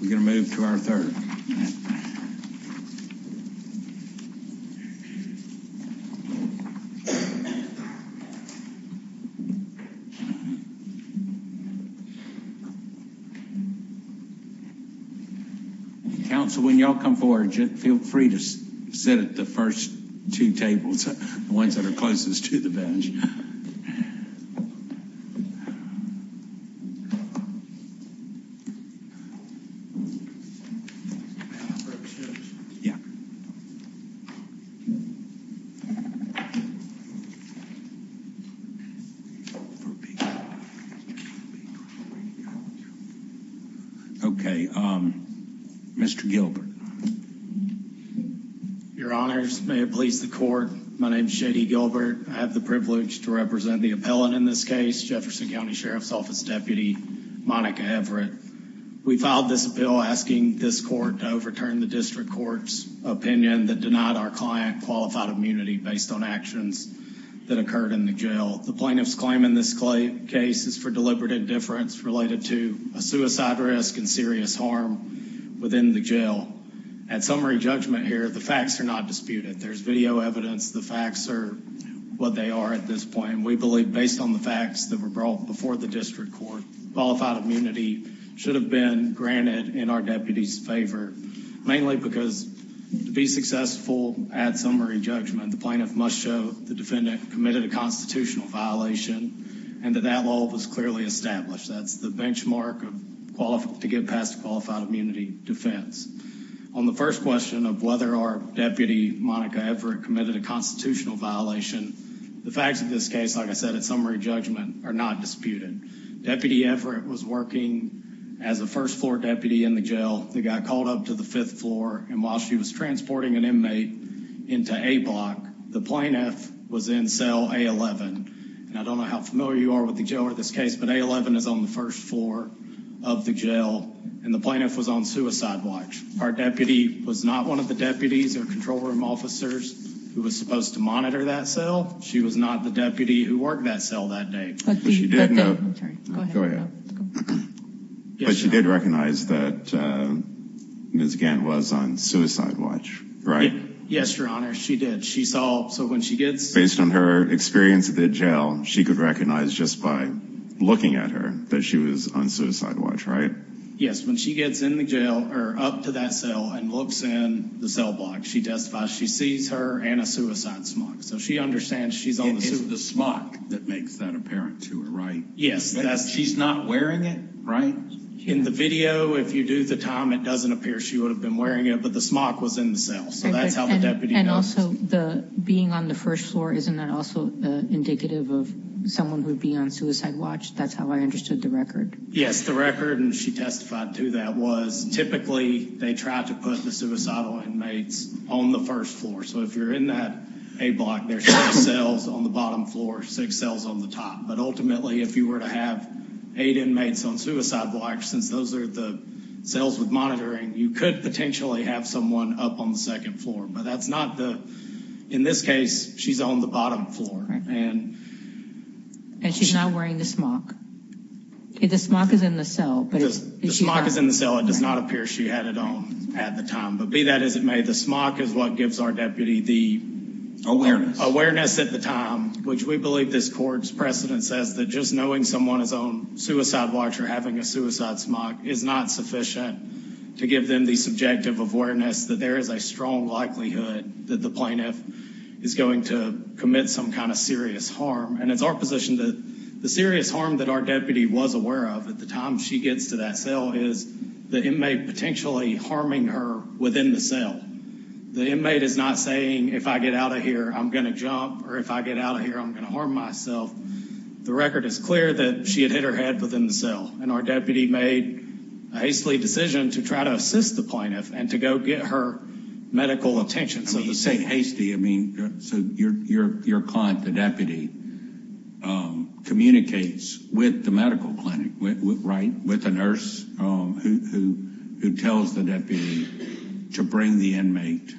We're going to move to our third. Council when y'all come forward, feel free to sit at the first two tables, the ones that are closest to the bench. Thank you very much. Thank you very much. Thank you very much to represent the appellant in this case, Jefferson County Sheriff's Office Deputy Monica Everett. We filed this bill asking this court to overturn the district court's opinion that denied our client qualified immunity based on actions that occurred in the jail. The plaintiff's claim in this case is for deliberate indifference related to a suicide risk and serious harm within the jail. At summary judgment here, the facts are not disputed. There's video evidence. The facts are what they are at this point. And we believe based on the facts that were brought before the district court, qualified immunity should have been granted in our deputy's favor. Mainly because to be successful at summary judgment, the plaintiff must show the defendant committed a constitutional violation and that that law was clearly established. That's the benchmark to get past qualified immunity defense. On the first question of whether our deputy Monica Everett committed a constitutional violation. The facts of this case, like I said, at summary judgment are not disputed. Deputy Everett was working as a first floor deputy in the jail. The guy called up to the fifth floor and while she was transporting an inmate into a block, the plaintiff was in cell A11. I don't know how familiar you are with the jail or this case, but A11 is on the first floor of the jail and the plaintiff was on suicide watch. Our deputy was not one of the deputies or control room officers who was supposed to monitor that cell. She was not the deputy who worked that cell that day. But she did recognize that Ms. Gant was on suicide watch, right? Yes, Your Honor, she did. Based on her experience at the jail, she could recognize just by looking at her that she was on suicide watch, right? Yes, when she gets in the jail or up to that cell and looks in the cell block, she testifies she sees her and a suicide smock. So she understands she's on the suicide watch. It's the smock that makes that apparent to her, right? Yes. She's not wearing it, right? In the video, if you do the time, it doesn't appear she would have been wearing it, but the smock was in the cell. And also, being on the first floor, isn't that also indicative of someone who would be on suicide watch? That's how I understood the record. Yes, the record, and she testified to that, was typically they tried to put the suicidal inmates on the first floor. So if you're in that A block, there's six cells on the bottom floor, six cells on the top. But ultimately, if you were to have eight inmates on suicide watch, since those are the cells with monitoring, you could potentially have someone up on the second floor. But that's not the, in this case, she's on the bottom floor. And she's not wearing the smock. The smock is in the cell. The smock is in the cell. It does not appear she had it on at the time. But be that as it may, the smock is what gives our deputy the awareness at the time, which we believe this court's precedent says that just knowing someone is on suicide watch or having a suicide smock is not sufficient to give them the subjective awareness that there is a strong likelihood that the plaintiff is going to commit some kind of serious harm. And it's our position that the serious harm that our deputy was aware of at the time she gets to that cell is the inmate potentially harming her within the cell. The inmate is not saying, if I get out of here, I'm going to jump, or if I get out of here, I'm going to harm myself. The record is clear that she had hit her head within the cell, and our deputy made a hasty decision to try to assist the plaintiff and to go get her medical attention. You say hasty. I mean, so your client, the deputy, communicates with the medical clinic, right, with a nurse who tells the deputy to bring the inmate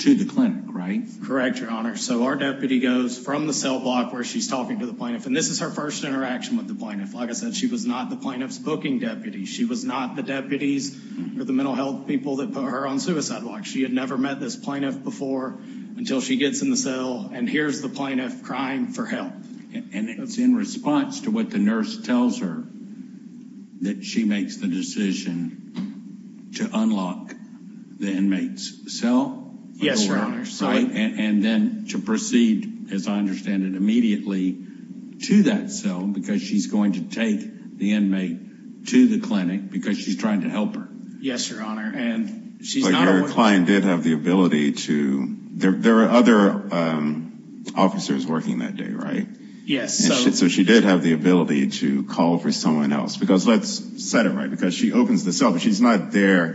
to the clinic, right? Correct, Your Honor. So our deputy goes from the cell block where she's talking to the plaintiff, and this is her first interaction with the plaintiff. Like I said, she was not the plaintiff's booking deputy. She was not the deputies or the mental health people that put her on suicide watch. She had never met this plaintiff before until she gets in the cell and hears the plaintiff crying for help. And it's in response to what the nurse tells her, that she makes the decision to unlock the inmate's cell? Yes, Your Honor. And then to proceed, as I understand it, immediately to that cell, because she's going to take the inmate to the clinic because she's trying to help her. Yes, Your Honor. But your client did have the ability to – there were other officers working that day, right? Yes. So she did have the ability to call for someone else. Because let's set it right, because she opens the cell, but she's not there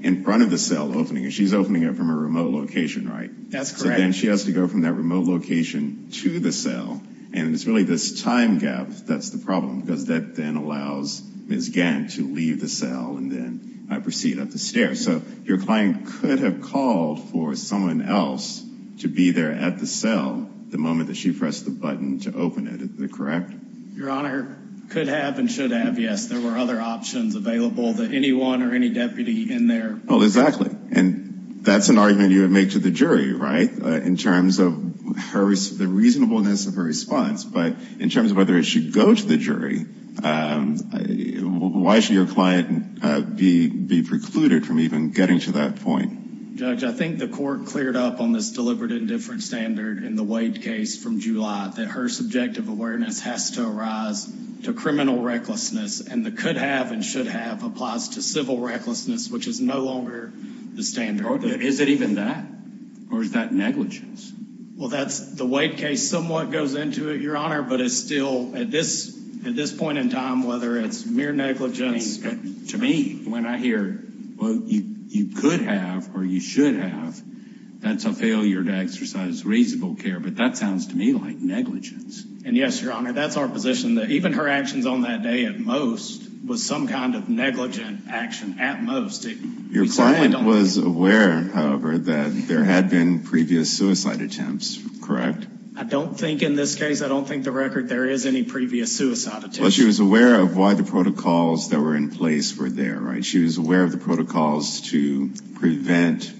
in front of the cell opening it. She's opening it from a remote location, right? That's correct. So then she has to go from that remote location to the cell. And it's really this time gap that's the problem, because that then allows Ms. Gant to leave the cell and then proceed up the stairs. So your client could have called for someone else to be there at the cell the moment that she pressed the button to open it. Is that correct? Your Honor, could have and should have, yes. There were other options available to anyone or any deputy in there. Oh, exactly. And that's an argument you would make to the jury, right, in terms of the reasonableness of her response. But in terms of whether it should go to the jury, why should your client be precluded from even getting to that point? Judge, I think the court cleared up on this deliberate indifference standard in the Wade case from July, that her subjective awareness has to arise to criminal recklessness, and the could have and should have applies to civil recklessness, which is no longer the standard. Is it even that? Or is that negligence? Well, that's the Wade case somewhat goes into it, Your Honor, but it's still at this point in time, whether it's mere negligence. To me, when I hear, well, you could have or you should have, that's a failure to exercise reasonable care. But that sounds to me like negligence. And yes, Your Honor, that's our position, that even her actions on that day at most was some kind of negligent action at most. Your client was aware, however, that there had been previous suicide attempts, correct? I don't think in this case, I don't think the record there is any previous suicide attempts. Well, she was aware of why the protocols that were in place were there, right? She was aware of the protocols to prevent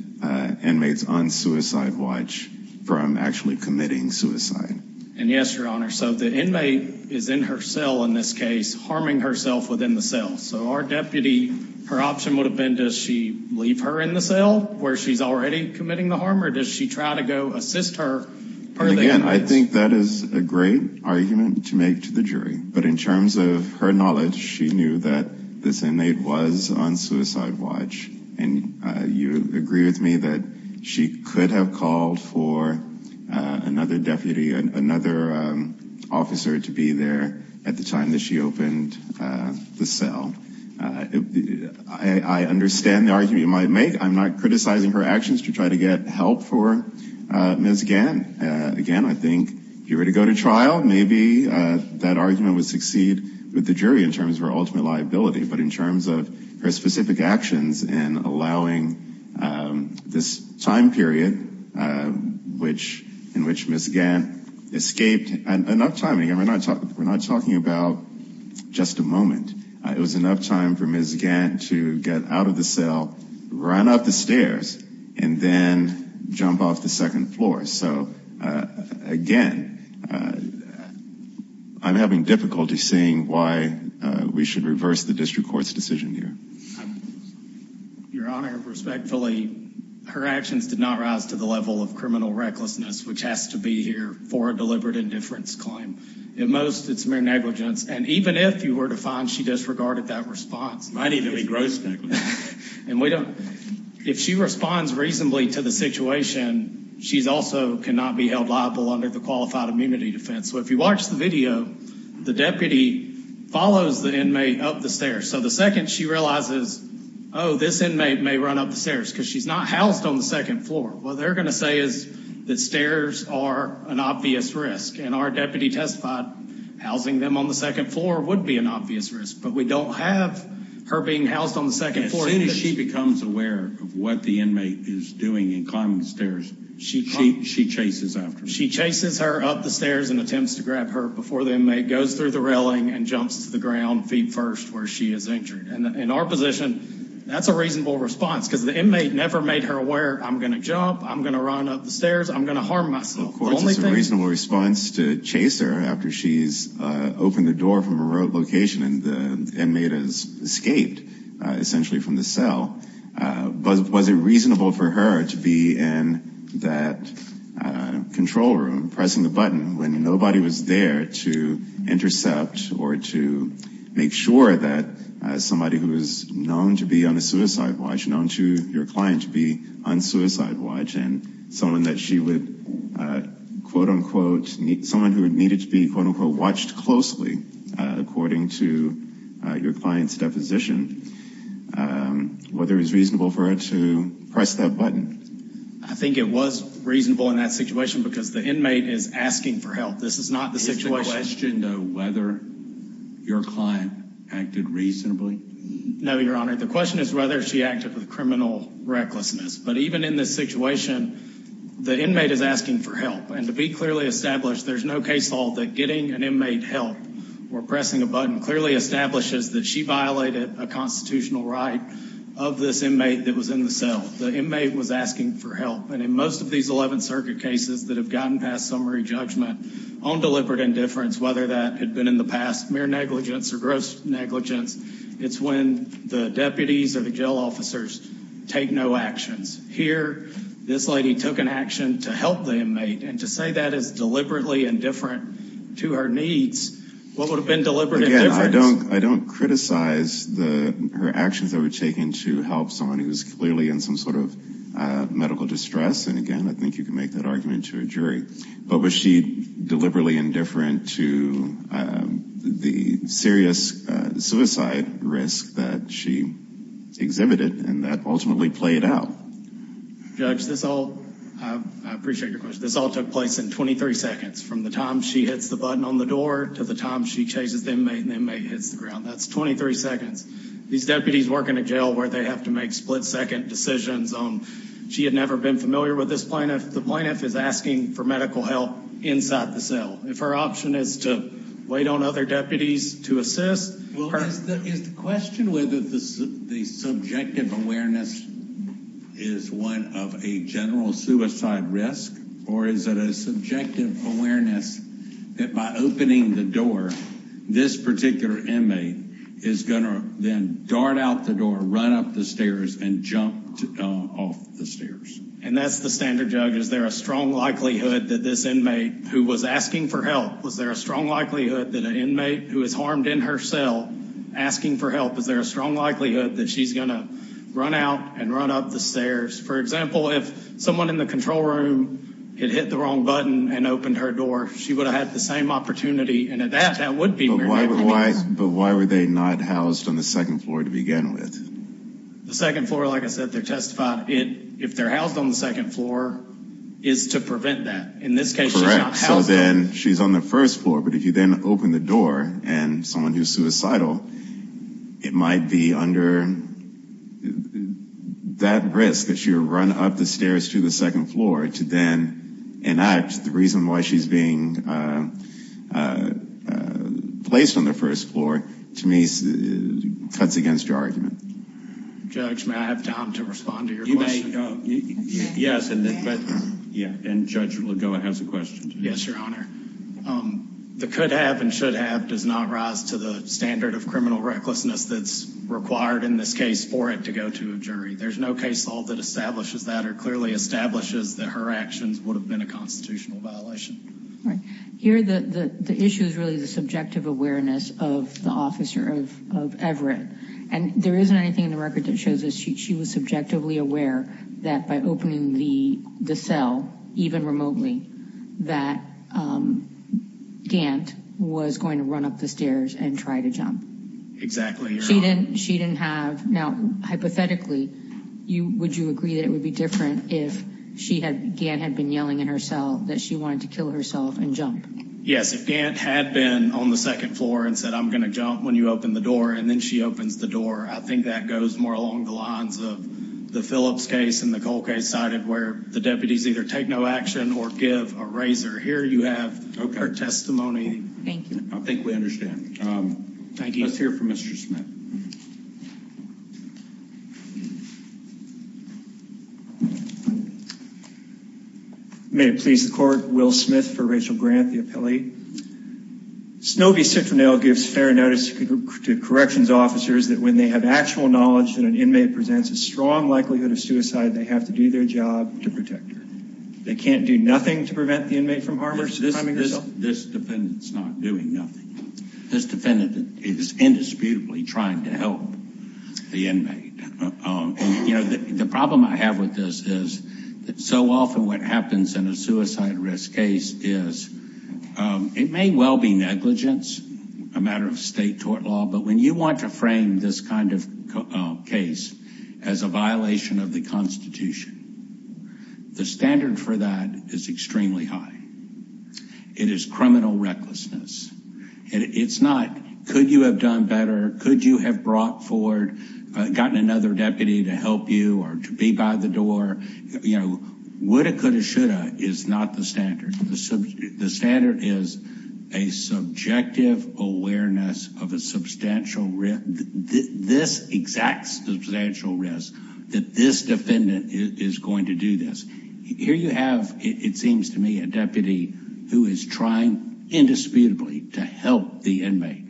inmates on suicide watch from actually committing suicide. And yes, Your Honor. So the inmate is in her cell in this case, harming herself within the cell. So our deputy, her option would have been, does she leave her in the cell where she's already committing the harm? Or does she try to go assist her? Again, I think that is a great argument to make to the jury. But in terms of her knowledge, she knew that this inmate was on suicide watch. And you agree with me that she could have called for another deputy, another officer to be there at the time that she opened the cell. I understand the argument you might make. I'm not criticizing her actions to try to get help for Ms. Gann. Again, I think if you were to go to trial, maybe that argument would succeed with the jury in terms of her ultimate liability. But in terms of her specific actions in allowing this time period in which Ms. Gann escaped enough time. Again, we're not talking about just a moment. It was enough time for Ms. Gann to get out of the cell, run up the stairs, and then jump off the second floor. So, again, I'm having difficulty seeing why we should reverse the district court's decision here. Your Honor, respectfully, her actions did not rise to the level of criminal recklessness, which has to be here for a deliberate indifference claim. At most, it's mere negligence. And even if you were to find she disregarded that response. Might even be gross negligence. If she responds reasonably to the situation, she also cannot be held liable under the qualified immunity defense. So if you watch the video, the deputy follows the inmate up the stairs. So the second she realizes, oh, this inmate may run up the stairs because she's not housed on the second floor. What they're going to say is that stairs are an obvious risk. And our deputy testified housing them on the second floor would be an obvious risk. But we don't have her being housed on the second floor. As soon as she becomes aware of what the inmate is doing and climbing the stairs, she chases after her. She chases her up the stairs and attempts to grab her before the inmate goes through the railing and jumps to the ground, feet first, where she is injured. And in our position, that's a reasonable response because the inmate never made her aware, I'm going to jump, I'm going to run up the stairs, I'm going to harm myself. Of course, it's a reasonable response to chase her after she's opened the door from a remote location and the inmate has escaped essentially from the cell. But was it reasonable for her to be in that control room pressing the button when nobody was there to intercept or to make sure that somebody who is known to be on a suicide watch, known to your client to be on suicide watch, and someone that she would, quote unquote, someone who needed to be, quote unquote, watched closely, according to your client's deposition, whether it was reasonable for her to press that button? I think it was reasonable in that situation because the inmate is asking for help. This is not the situation. Is the question, though, whether your client acted reasonably? No, Your Honor. The question is whether she acted with criminal recklessness. But even in this situation, the inmate is asking for help. And to be clearly established, there's no case law that getting an inmate help or pressing a button clearly establishes that she violated a constitutional right of this inmate that was in the cell. The inmate was asking for help. And in most of these 11th Circuit cases that have gotten past summary judgment on deliberate indifference, whether that had been in the past mere negligence or gross negligence, it's when the deputies or the jail officers take no actions. Here, this lady took an action to help the inmate. And to say that is deliberately indifferent to her needs, what would have been deliberate indifference? Again, I don't criticize her actions that were taken to help someone who was clearly in some sort of medical distress. And, again, I think you can make that argument to a jury. But was she deliberately indifferent to the serious suicide risk that she exhibited and that ultimately played out? Judge, this all took place in 23 seconds, from the time she hits the button on the door to the time she chases the inmate and the inmate hits the ground. That's 23 seconds. These deputies work in a jail where they have to make split-second decisions. She had never been familiar with this plaintiff. The plaintiff is asking for medical help inside the cell. If her option is to wait on other deputies to assist her. Well, is the question whether the subjective awareness is one of a general suicide risk? Or is it a subjective awareness that by opening the door, this particular inmate is going to then dart out the door, run up the stairs, and jump off the stairs? And that's the standard, Judge. Is there a strong likelihood that this inmate, who was asking for help, was there a strong likelihood that an inmate who is harmed in her cell, asking for help, is there a strong likelihood that she's going to run out and run up the stairs? For example, if someone in the control room had hit the wrong button and opened her door, she would have had the same opportunity. And that would be weird. But why were they not housed on the second floor to begin with? The second floor, like I said, they're testified. If they're housed on the second floor, it's to prevent that. In this case, she's not housed. So then she's on the first floor. But if you then open the door, and someone who's suicidal, it might be under that risk that she'll run up the stairs to the second floor to then enact. The reason why she's being placed on the first floor, to me, cuts against your argument. Judge, may I have time to respond to your question? Yes. And Judge Lagoa has a question. Yes, Your Honor. The could have and should have does not rise to the standard of criminal recklessness that's required in this case for it to go to a jury. There's no case law that establishes that or clearly establishes that her actions would have been a constitutional violation. Here, the issue is really the subjective awareness of the officer of Everett. And there isn't anything in the record that shows that she was subjectively aware that by opening the cell, even remotely, that Gant was going to run up the stairs and try to jump. Exactly, Your Honor. Now, hypothetically, would you agree that it would be different if Gant had been yelling in her cell that she wanted to kill herself and jump? Yes. If Gant had been on the second floor and said, I'm going to jump when you open the door, and then she opens the door, I think that goes more along the lines of the Phillips case and the Cole case cited where the deputies either take no action or give a razor. Here you have her testimony. Thank you. I think we understand. Thank you. Let's hear from Mr. Smith. May it please the court, Will Smith for Rachel Grant, the appellee. Snobby Citronelle gives fair notice to corrections officers that when they have actual knowledge that an inmate presents a strong likelihood of suicide, they have to do their job to protect her. They can't do nothing to prevent the inmate from harming herself? This defendant's not doing nothing. This defendant is indisputably trying to help the inmate. You know, the problem I have with this is that so often what happens in a suicide risk case is it may well be negligence, a matter of state tort law. But when you want to frame this kind of case as a violation of the Constitution, the standard for that is extremely high. It is criminal recklessness. And it's not. Could you have done better? Could you have brought forward, gotten another deputy to help you or to be by the door? You know, woulda, coulda, shoulda is not the standard. The standard is a subjective awareness of a substantial risk, this exact substantial risk that this defendant is going to do this. Here you have, it seems to me, a deputy who is trying indisputably to help the inmate.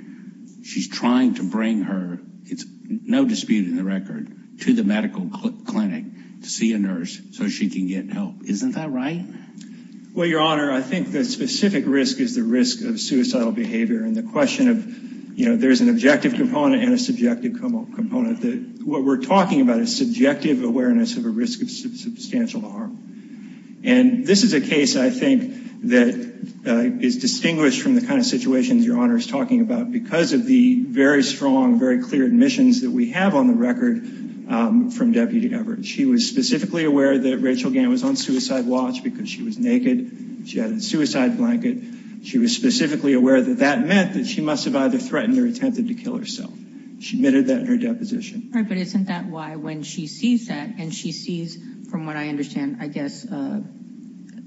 She's trying to bring her, it's no dispute in the record, to the medical clinic to see a nurse so she can get help. Isn't that right? Well, Your Honor, I think the specific risk is the risk of suicidal behavior. And the question of, you know, there's an objective component and a subjective component. What we're talking about is subjective awareness of a risk of substantial harm. And this is a case, I think, that is distinguished from the kind of situations Your Honor is talking about because of the very strong, very clear admissions that we have on the record from Deputy Everett. She was specifically aware that Rachel Gant was on suicide watch because she was naked. She had a suicide blanket. She was specifically aware that that meant that she must have either threatened or attempted to kill herself. She admitted that in her deposition. All right, but isn't that why when she sees that and she sees, from what I understand, I guess,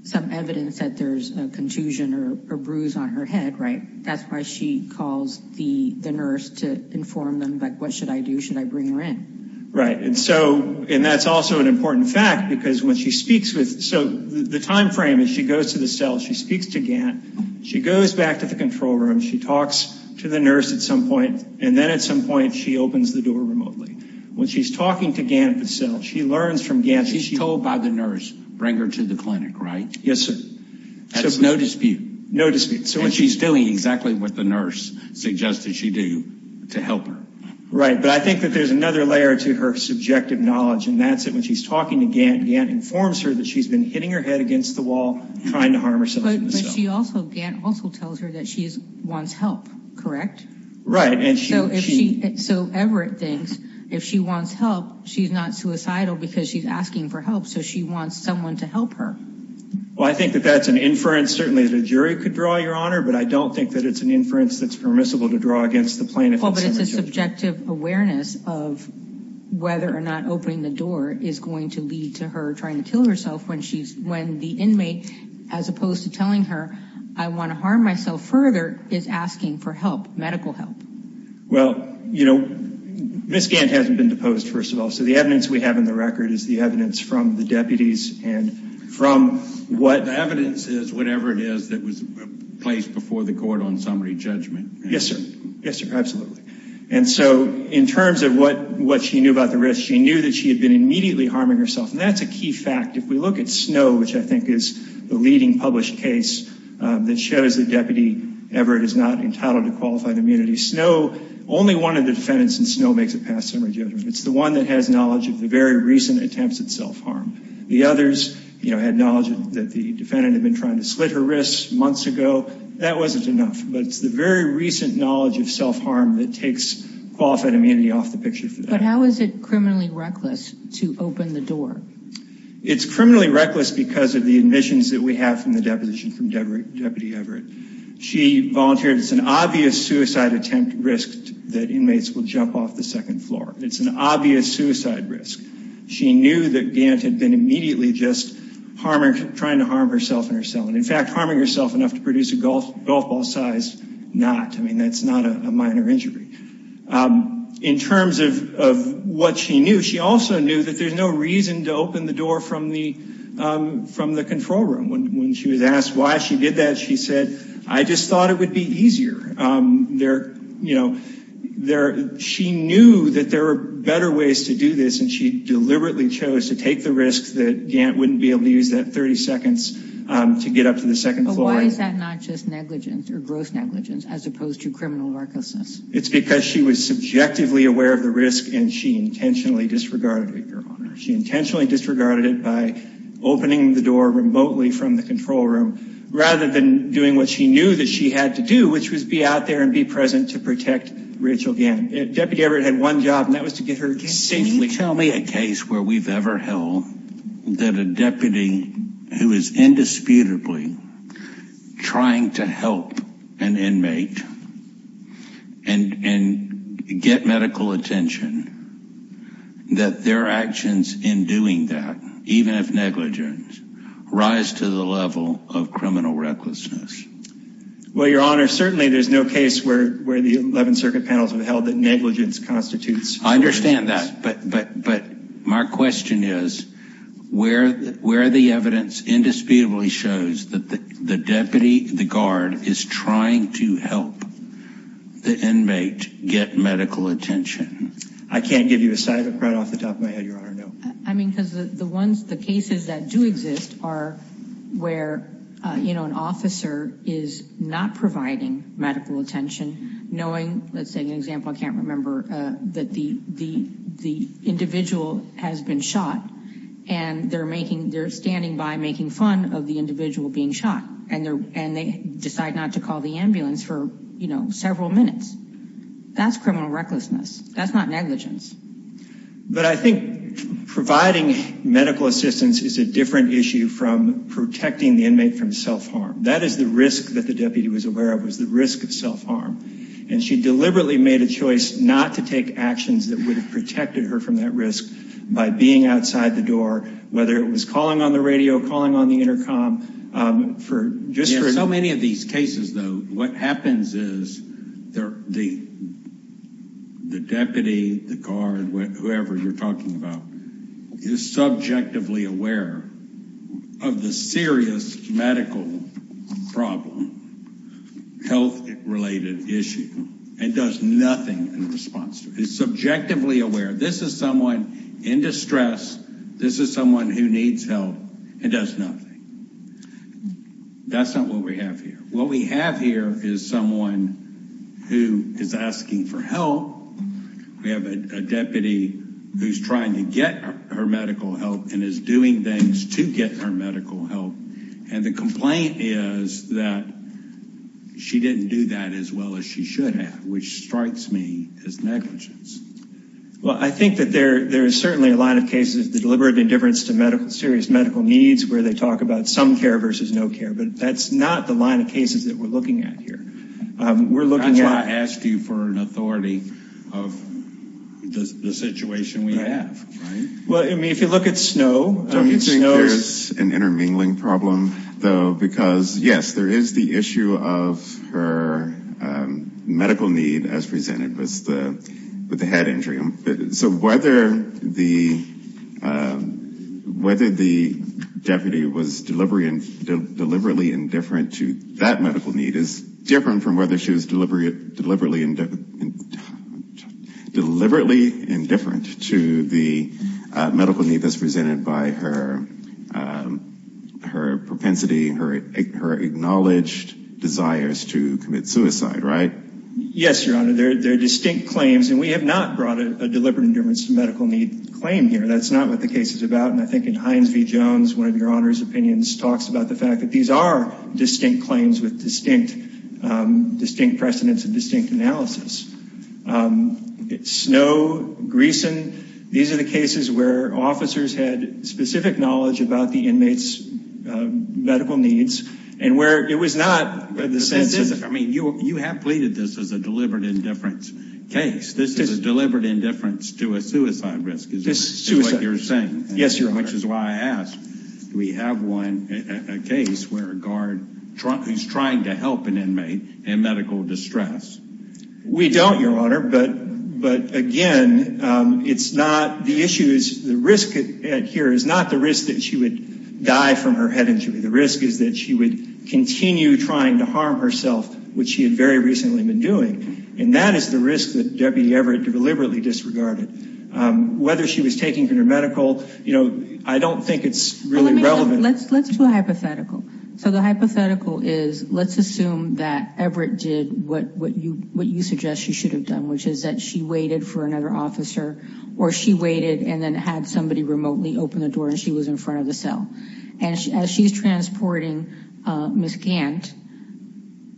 some evidence that there's a contusion or a bruise on her head, right, that's why she calls the nurse to inform them, like, what should I do? Should I bring her in? Right. And so, and that's also an important fact because when she speaks with, so the time frame is she goes to the cell, she speaks to Gant, she goes back to the control room, she talks to the nurse at some point, and then at some point she opens the door remotely. When she's talking to Gant herself, she learns from Gant. She's told by the nurse, bring her to the clinic, right? Yes, sir. There's no dispute. No dispute. And she's doing exactly what the nurse suggested she do to help her. Right, but I think that there's another layer to her subjective knowledge, and that's that when she's talking to Gant, Gant informs her that she's been hitting her head against the wall, trying to harm herself. But she also, Gant also tells her that she wants help, correct? Right. So Everett thinks if she wants help, she's not suicidal because she's asking for help, so she wants someone to help her. Well, I think that that's an inference certainly that a jury could draw, Your Honor, but I don't think that it's an inference that's permissible to draw against the plaintiff. Well, but it's a subjective awareness of whether or not opening the door is going to lead to her trying to kill herself when the inmate, as opposed to telling her, I want to harm myself further, is asking for help, medical help. Well, you know, Ms. Gant hasn't been deposed, first of all, so the evidence we have in the record is the evidence from the deputies and from what... The evidence is whatever it is that was placed before the court on summary judgment. Yes, sir. Yes, sir, absolutely. And so in terms of what she knew about the risk, she knew that she had been immediately harming herself, and that's a key fact. If we look at Snow, which I think is the leading published case that shows that Deputy Everett is not entitled to qualified immunity, Snow, only one of the defendants in Snow makes a past summary judgment. It's the one that has knowledge of the very recent attempts at self-harm. The others, you know, had knowledge that the defendant had been trying to slit her wrists months ago. That wasn't enough. But it's the very recent knowledge of self-harm that takes qualified immunity off the picture for that. But how is it criminally reckless to open the door? It's criminally reckless because of the admissions that we have from the deposition from Deputy Everett. She volunteered. It's an obvious suicide attempt risk that inmates will jump off the second floor. It's an obvious suicide risk. She knew that Gant had been immediately just trying to harm herself and her son, in fact, harming herself enough to produce a golf ball-sized knot. I mean, that's not a minor injury. In terms of what she knew, she also knew that there's no reason to open the door from the control room. When she was asked why she did that, she said, I just thought it would be easier. She knew that there were better ways to do this, and she deliberately chose to take the risk that Gant wouldn't be able to use that 30 seconds to get up to the second floor. But why is that not just negligence or gross negligence as opposed to criminal recklessness? It's because she was subjectively aware of the risk, and she intentionally disregarded it, Your Honor. She intentionally disregarded it by opening the door remotely from the control room, rather than doing what she knew that she had to do, which was be out there and be present to protect Rachel Gant. Deputy Everett had one job, and that was to get her safely. Can you tell me a case where we've ever held that a deputy who is indisputably trying to help an inmate and get medical attention, that their actions in doing that, even if negligent, rise to the level of criminal recklessness? Well, Your Honor, certainly there's no case where the 11th Circuit panels have held that negligence constitutes criminal recklessness. I understand that, but my question is, where the evidence indisputably shows that the deputy, the guard, is trying to help the inmate get medical attention? I can't give you a side effect right off the top of my head, Your Honor, no. I mean, because the cases that do exist are where an officer is not providing medical attention, knowing, let's take an example I can't remember, that the individual has been shot, and they're standing by making fun of the individual being shot, and they decide not to call the ambulance for several minutes. That's criminal recklessness. That's not negligence. But I think providing medical assistance is a different issue from protecting the inmate from self-harm. That is the risk that the deputy was aware of, was the risk of self-harm. And she deliberately made a choice not to take actions that would have protected her from that risk by being outside the door, whether it was calling on the radio, calling on the intercom. So many of these cases, though, what happens is the deputy, the guard, whoever you're talking about, is subjectively aware of the serious medical problem, health-related issue, and does nothing in response to it. She's subjectively aware, this is someone in distress, this is someone who needs help, and does nothing. That's not what we have here. What we have here is someone who is asking for help. We have a deputy who's trying to get her medical help and is doing things to get her medical help. And the complaint is that she didn't do that as well as she should have, which strikes me as negligence. Well, I think that there is certainly a line of cases of deliberate indifference to serious medical needs where they talk about some care versus no care, but that's not the line of cases that we're looking at here. That's why I asked you for an authority of the situation we have. Well, I mean, if you look at Snowe, Snowe's... I don't think there's an intermingling problem, though, because, yes, there is the issue of her medical need as presented with the head injury. So whether the deputy was deliberately indifferent to that medical need is different from whether she was deliberately indifferent to the medical need that's presented by her propensity, her acknowledged desires to commit suicide, right? Yes, Your Honor. They're distinct claims, and we have not brought a deliberate indifference to medical need claim here. That's not what the case is about, and I think in Hines v. Jones, one of Your Honor's opinions, talks about the fact that these are distinct claims with distinct precedents and distinct analysis. Snowe, Greeson, these are the cases where officers had specific knowledge about the inmates' medical needs and where it was not the sense of... I mean, you have pleaded this as a deliberate indifference case. This is a deliberate indifference to a suicide risk, is what you're saying. Yes, Your Honor. Which is why I ask, do we have a case where a guard who's trying to help an inmate in medical distress? We don't, Your Honor, but again, it's not... The risk here is not the risk that she would die from her head injury. The risk is that she would continue trying to harm herself, which she had very recently been doing, and that is the risk that Deputy Everett deliberately disregarded. Whether she was taking her to medical, you know, I don't think it's really relevant. Let's do a hypothetical. So the hypothetical is, let's assume that Everett did what you suggest she should have done, which is that she waited for another officer, or she waited and then had somebody remotely open the door and she was in front of the cell. And as she's transporting Miss Gant,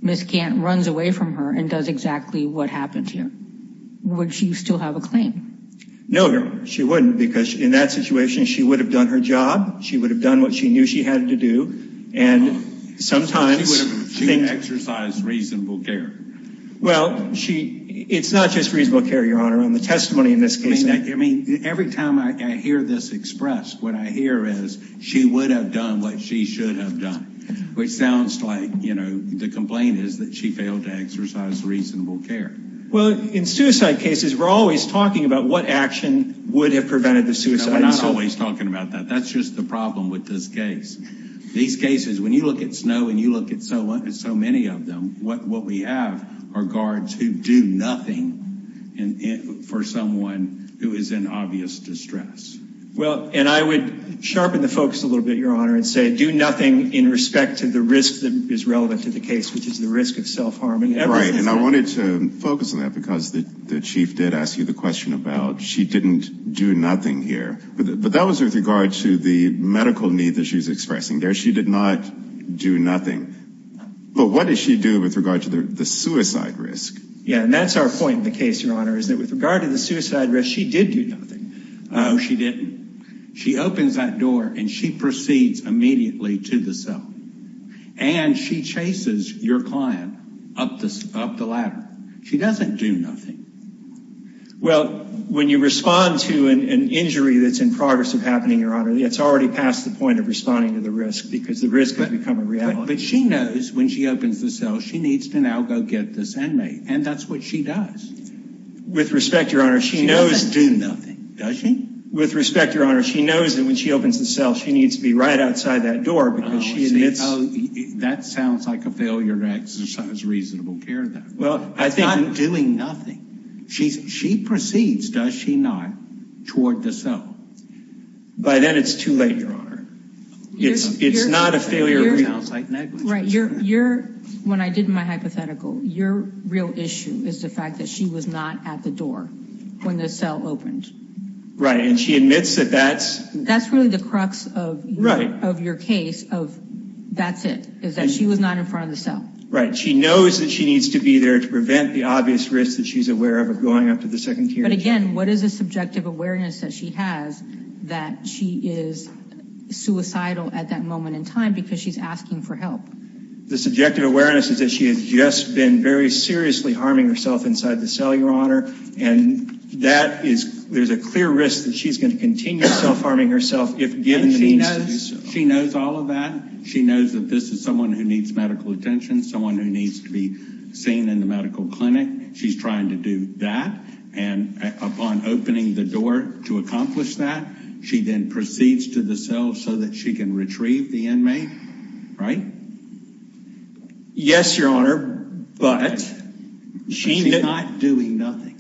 Miss Gant runs away from her and does exactly what happened to her. Would she still have a claim? No, Your Honor, she wouldn't, because in that situation she would have done her job, she would have done what she knew she had to do, and sometimes... She would have exercised reasonable care. Well, it's not just reasonable care, Your Honor. On the testimony in this case... I mean, every time I hear this expressed, what I hear is she would have done what she should have done, which sounds like, you know, the complaint is that she failed to exercise reasonable care. Well, in suicide cases, we're always talking about what action would have prevented the suicide. No, we're not always talking about that. That's just the problem with this case. These cases, when you look at Snowe and you look at so many of them, what we have are guards who do nothing for someone who is in obvious distress. Well, and I would sharpen the focus a little bit, Your Honor, and say do nothing in respect to the risk that is relevant to the case, which is the risk of self-harm. Right, and I wanted to focus on that because the chief did ask you the question about she didn't do nothing here. But that was with regard to the medical need that she's expressing there. She did not do nothing. But what did she do with regard to the suicide risk? Yeah, and that's our point in the case, Your Honor, is that with regard to the suicide risk, she did do nothing. No, she didn't. She opens that door, and she proceeds immediately to the cell. And she chases your client up the ladder. She doesn't do nothing. Well, when you respond to an injury that's in progress of happening, Your Honor, it's already past the point of responding to the risk because the risk has become a reality. But she knows when she opens the cell, she needs to now go get this inmate, and that's what she does. With respect, Your Honor, she knows do nothing. Does she? With respect, Your Honor, she knows that when she opens the cell, she needs to be right outside that door because she admits. Oh, see, that sounds like a failure to exercise reasonable care there. Well, I think. That's not doing nothing. She proceeds, does she not, toward the cell. By then it's too late, Your Honor. It's not a failure. It sounds like negligence. Right. When I did my hypothetical, your real issue is the fact that she was not at the door when the cell opened. Right, and she admits that that's. That's really the crux of your case of that's it, is that she was not in front of the cell. Right. She knows that she needs to be there to prevent the obvious risk that she's aware of of going up to the second tier. But, again, what is the subjective awareness that she has that she is suicidal at that moment in time because she's asking for help? The subjective awareness is that she has just been very seriously harming herself inside the cell, Your Honor, and there's a clear risk that she's going to continue self-harming herself if given the means to do so. She knows all of that. She knows that this is someone who needs medical attention, someone who needs to be seen in the medical clinic. She's trying to do that. And upon opening the door to accomplish that, she then proceeds to the cell so that she can retrieve the inmate. Right? Yes, Your Honor, but she's not doing nothing.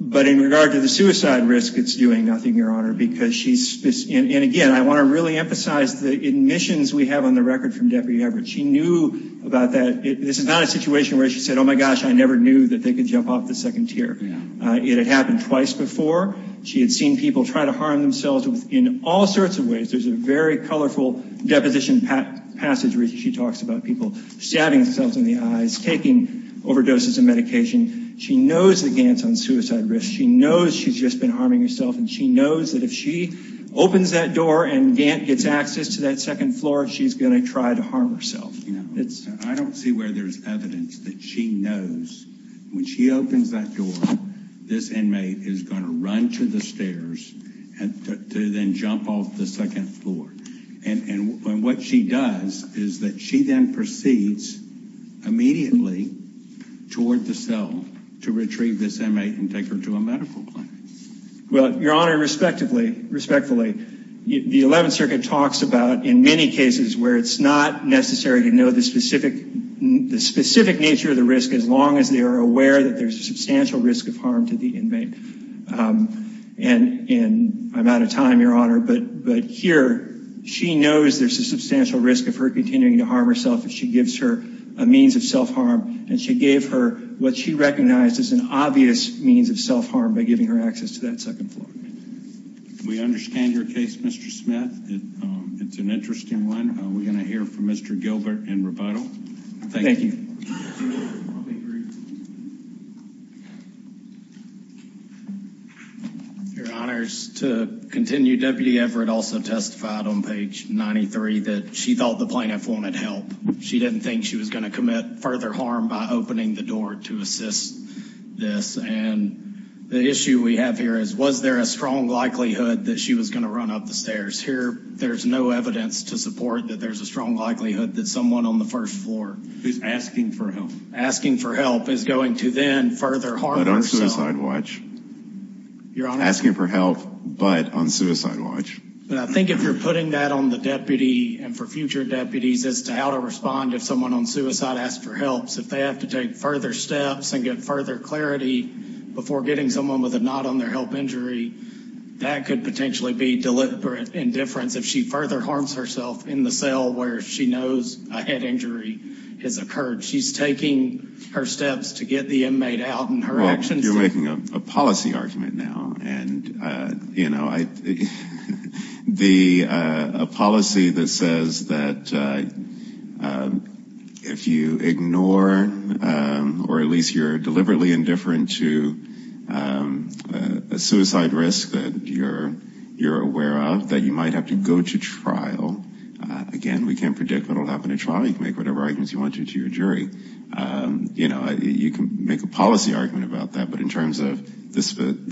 But in regard to the suicide risk, it's doing nothing, Your Honor, because she's, and, again, I want to really emphasize the admissions we have on the record from Deputy Everett. She knew about that. This is not a situation where she said, oh, my gosh, I never knew that they could jump off the second tier. It had happened twice before. She had seen people try to harm themselves in all sorts of ways. There's a very colorful deposition passage where she talks about people stabbing themselves in the eyes, taking overdoses of medication. She knows that Gant's on suicide risk. She knows she's just been harming herself. And she knows that if she opens that door and Gant gets access to that second floor, she's going to try to harm herself. I don't see where there's evidence that she knows when she opens that door, this inmate is going to run to the stairs to then jump off the second floor. And what she does is that she then proceeds immediately toward the cell to retrieve this inmate and take her to a medical plan. Well, Your Honor, respectfully, the 11th Circuit talks about in many cases where it's not necessary to know the specific nature of the risk as long as they are aware that there's a substantial risk of harm to the inmate. And I'm out of time, Your Honor, but here she knows there's a substantial risk of her continuing to harm herself if she gives her a means of self-harm. And she gave her what she recognized as an obvious means of self-harm by giving her access to that second floor. We understand your case, Mr. Smith. It's an interesting one. We're going to hear from Mr. Gilbert in rebuttal. Thank you. Your Honor, to continue, Deputy Everett also testified on page 93 that she thought the plaintiff wanted help. She didn't think she was going to commit further harm by opening the door to assist this. And the issue we have here is, was there a strong likelihood that she was going to run up the stairs? Here, there's no evidence to support that there's a strong likelihood that someone on the first floor who's asking for help asking for help is going to then further harm herself. Asking for help, but on suicide watch. But I think if you're putting that on the deputy and for future deputies as to how to respond if someone on suicide asks for help, if they have to take further steps and get further clarity before getting someone with a nod on their help injury, that could potentially be deliberate indifference if she further harms herself in the cell where she knows a head injury has occurred. She's taking her steps to get the inmate out and her actions... Well, you're making a policy argument now. And, you know, a policy that says that if you ignore or at least you're deliberately indifferent to a suicide risk that you're aware of, that you might have to go to trial. Again, we can't predict what will happen at trial. You can make whatever arguments you want to to your jury. You know, you can make a policy argument about that. But in terms of the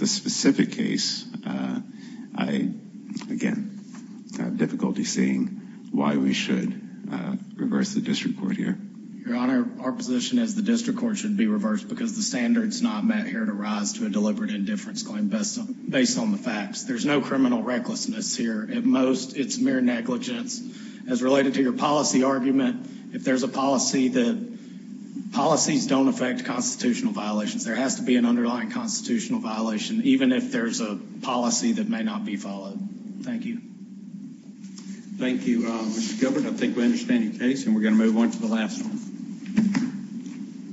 specific case, I, again, have difficulty seeing why we should reverse the district court here. Your Honor, our position is the district court should be reversed because the standard's not met here to rise to a deliberate indifference claim based on the facts. There's no criminal recklessness here. At most, it's mere negligence. As related to your policy argument, if there's a policy that... Policies don't affect constitutional violations. There has to be an underlying constitutional violation, even if there's a policy that may not be followed. Thank you. Thank you, Mr. Gilbert. I think we understand your case, and we're going to move on to the last one.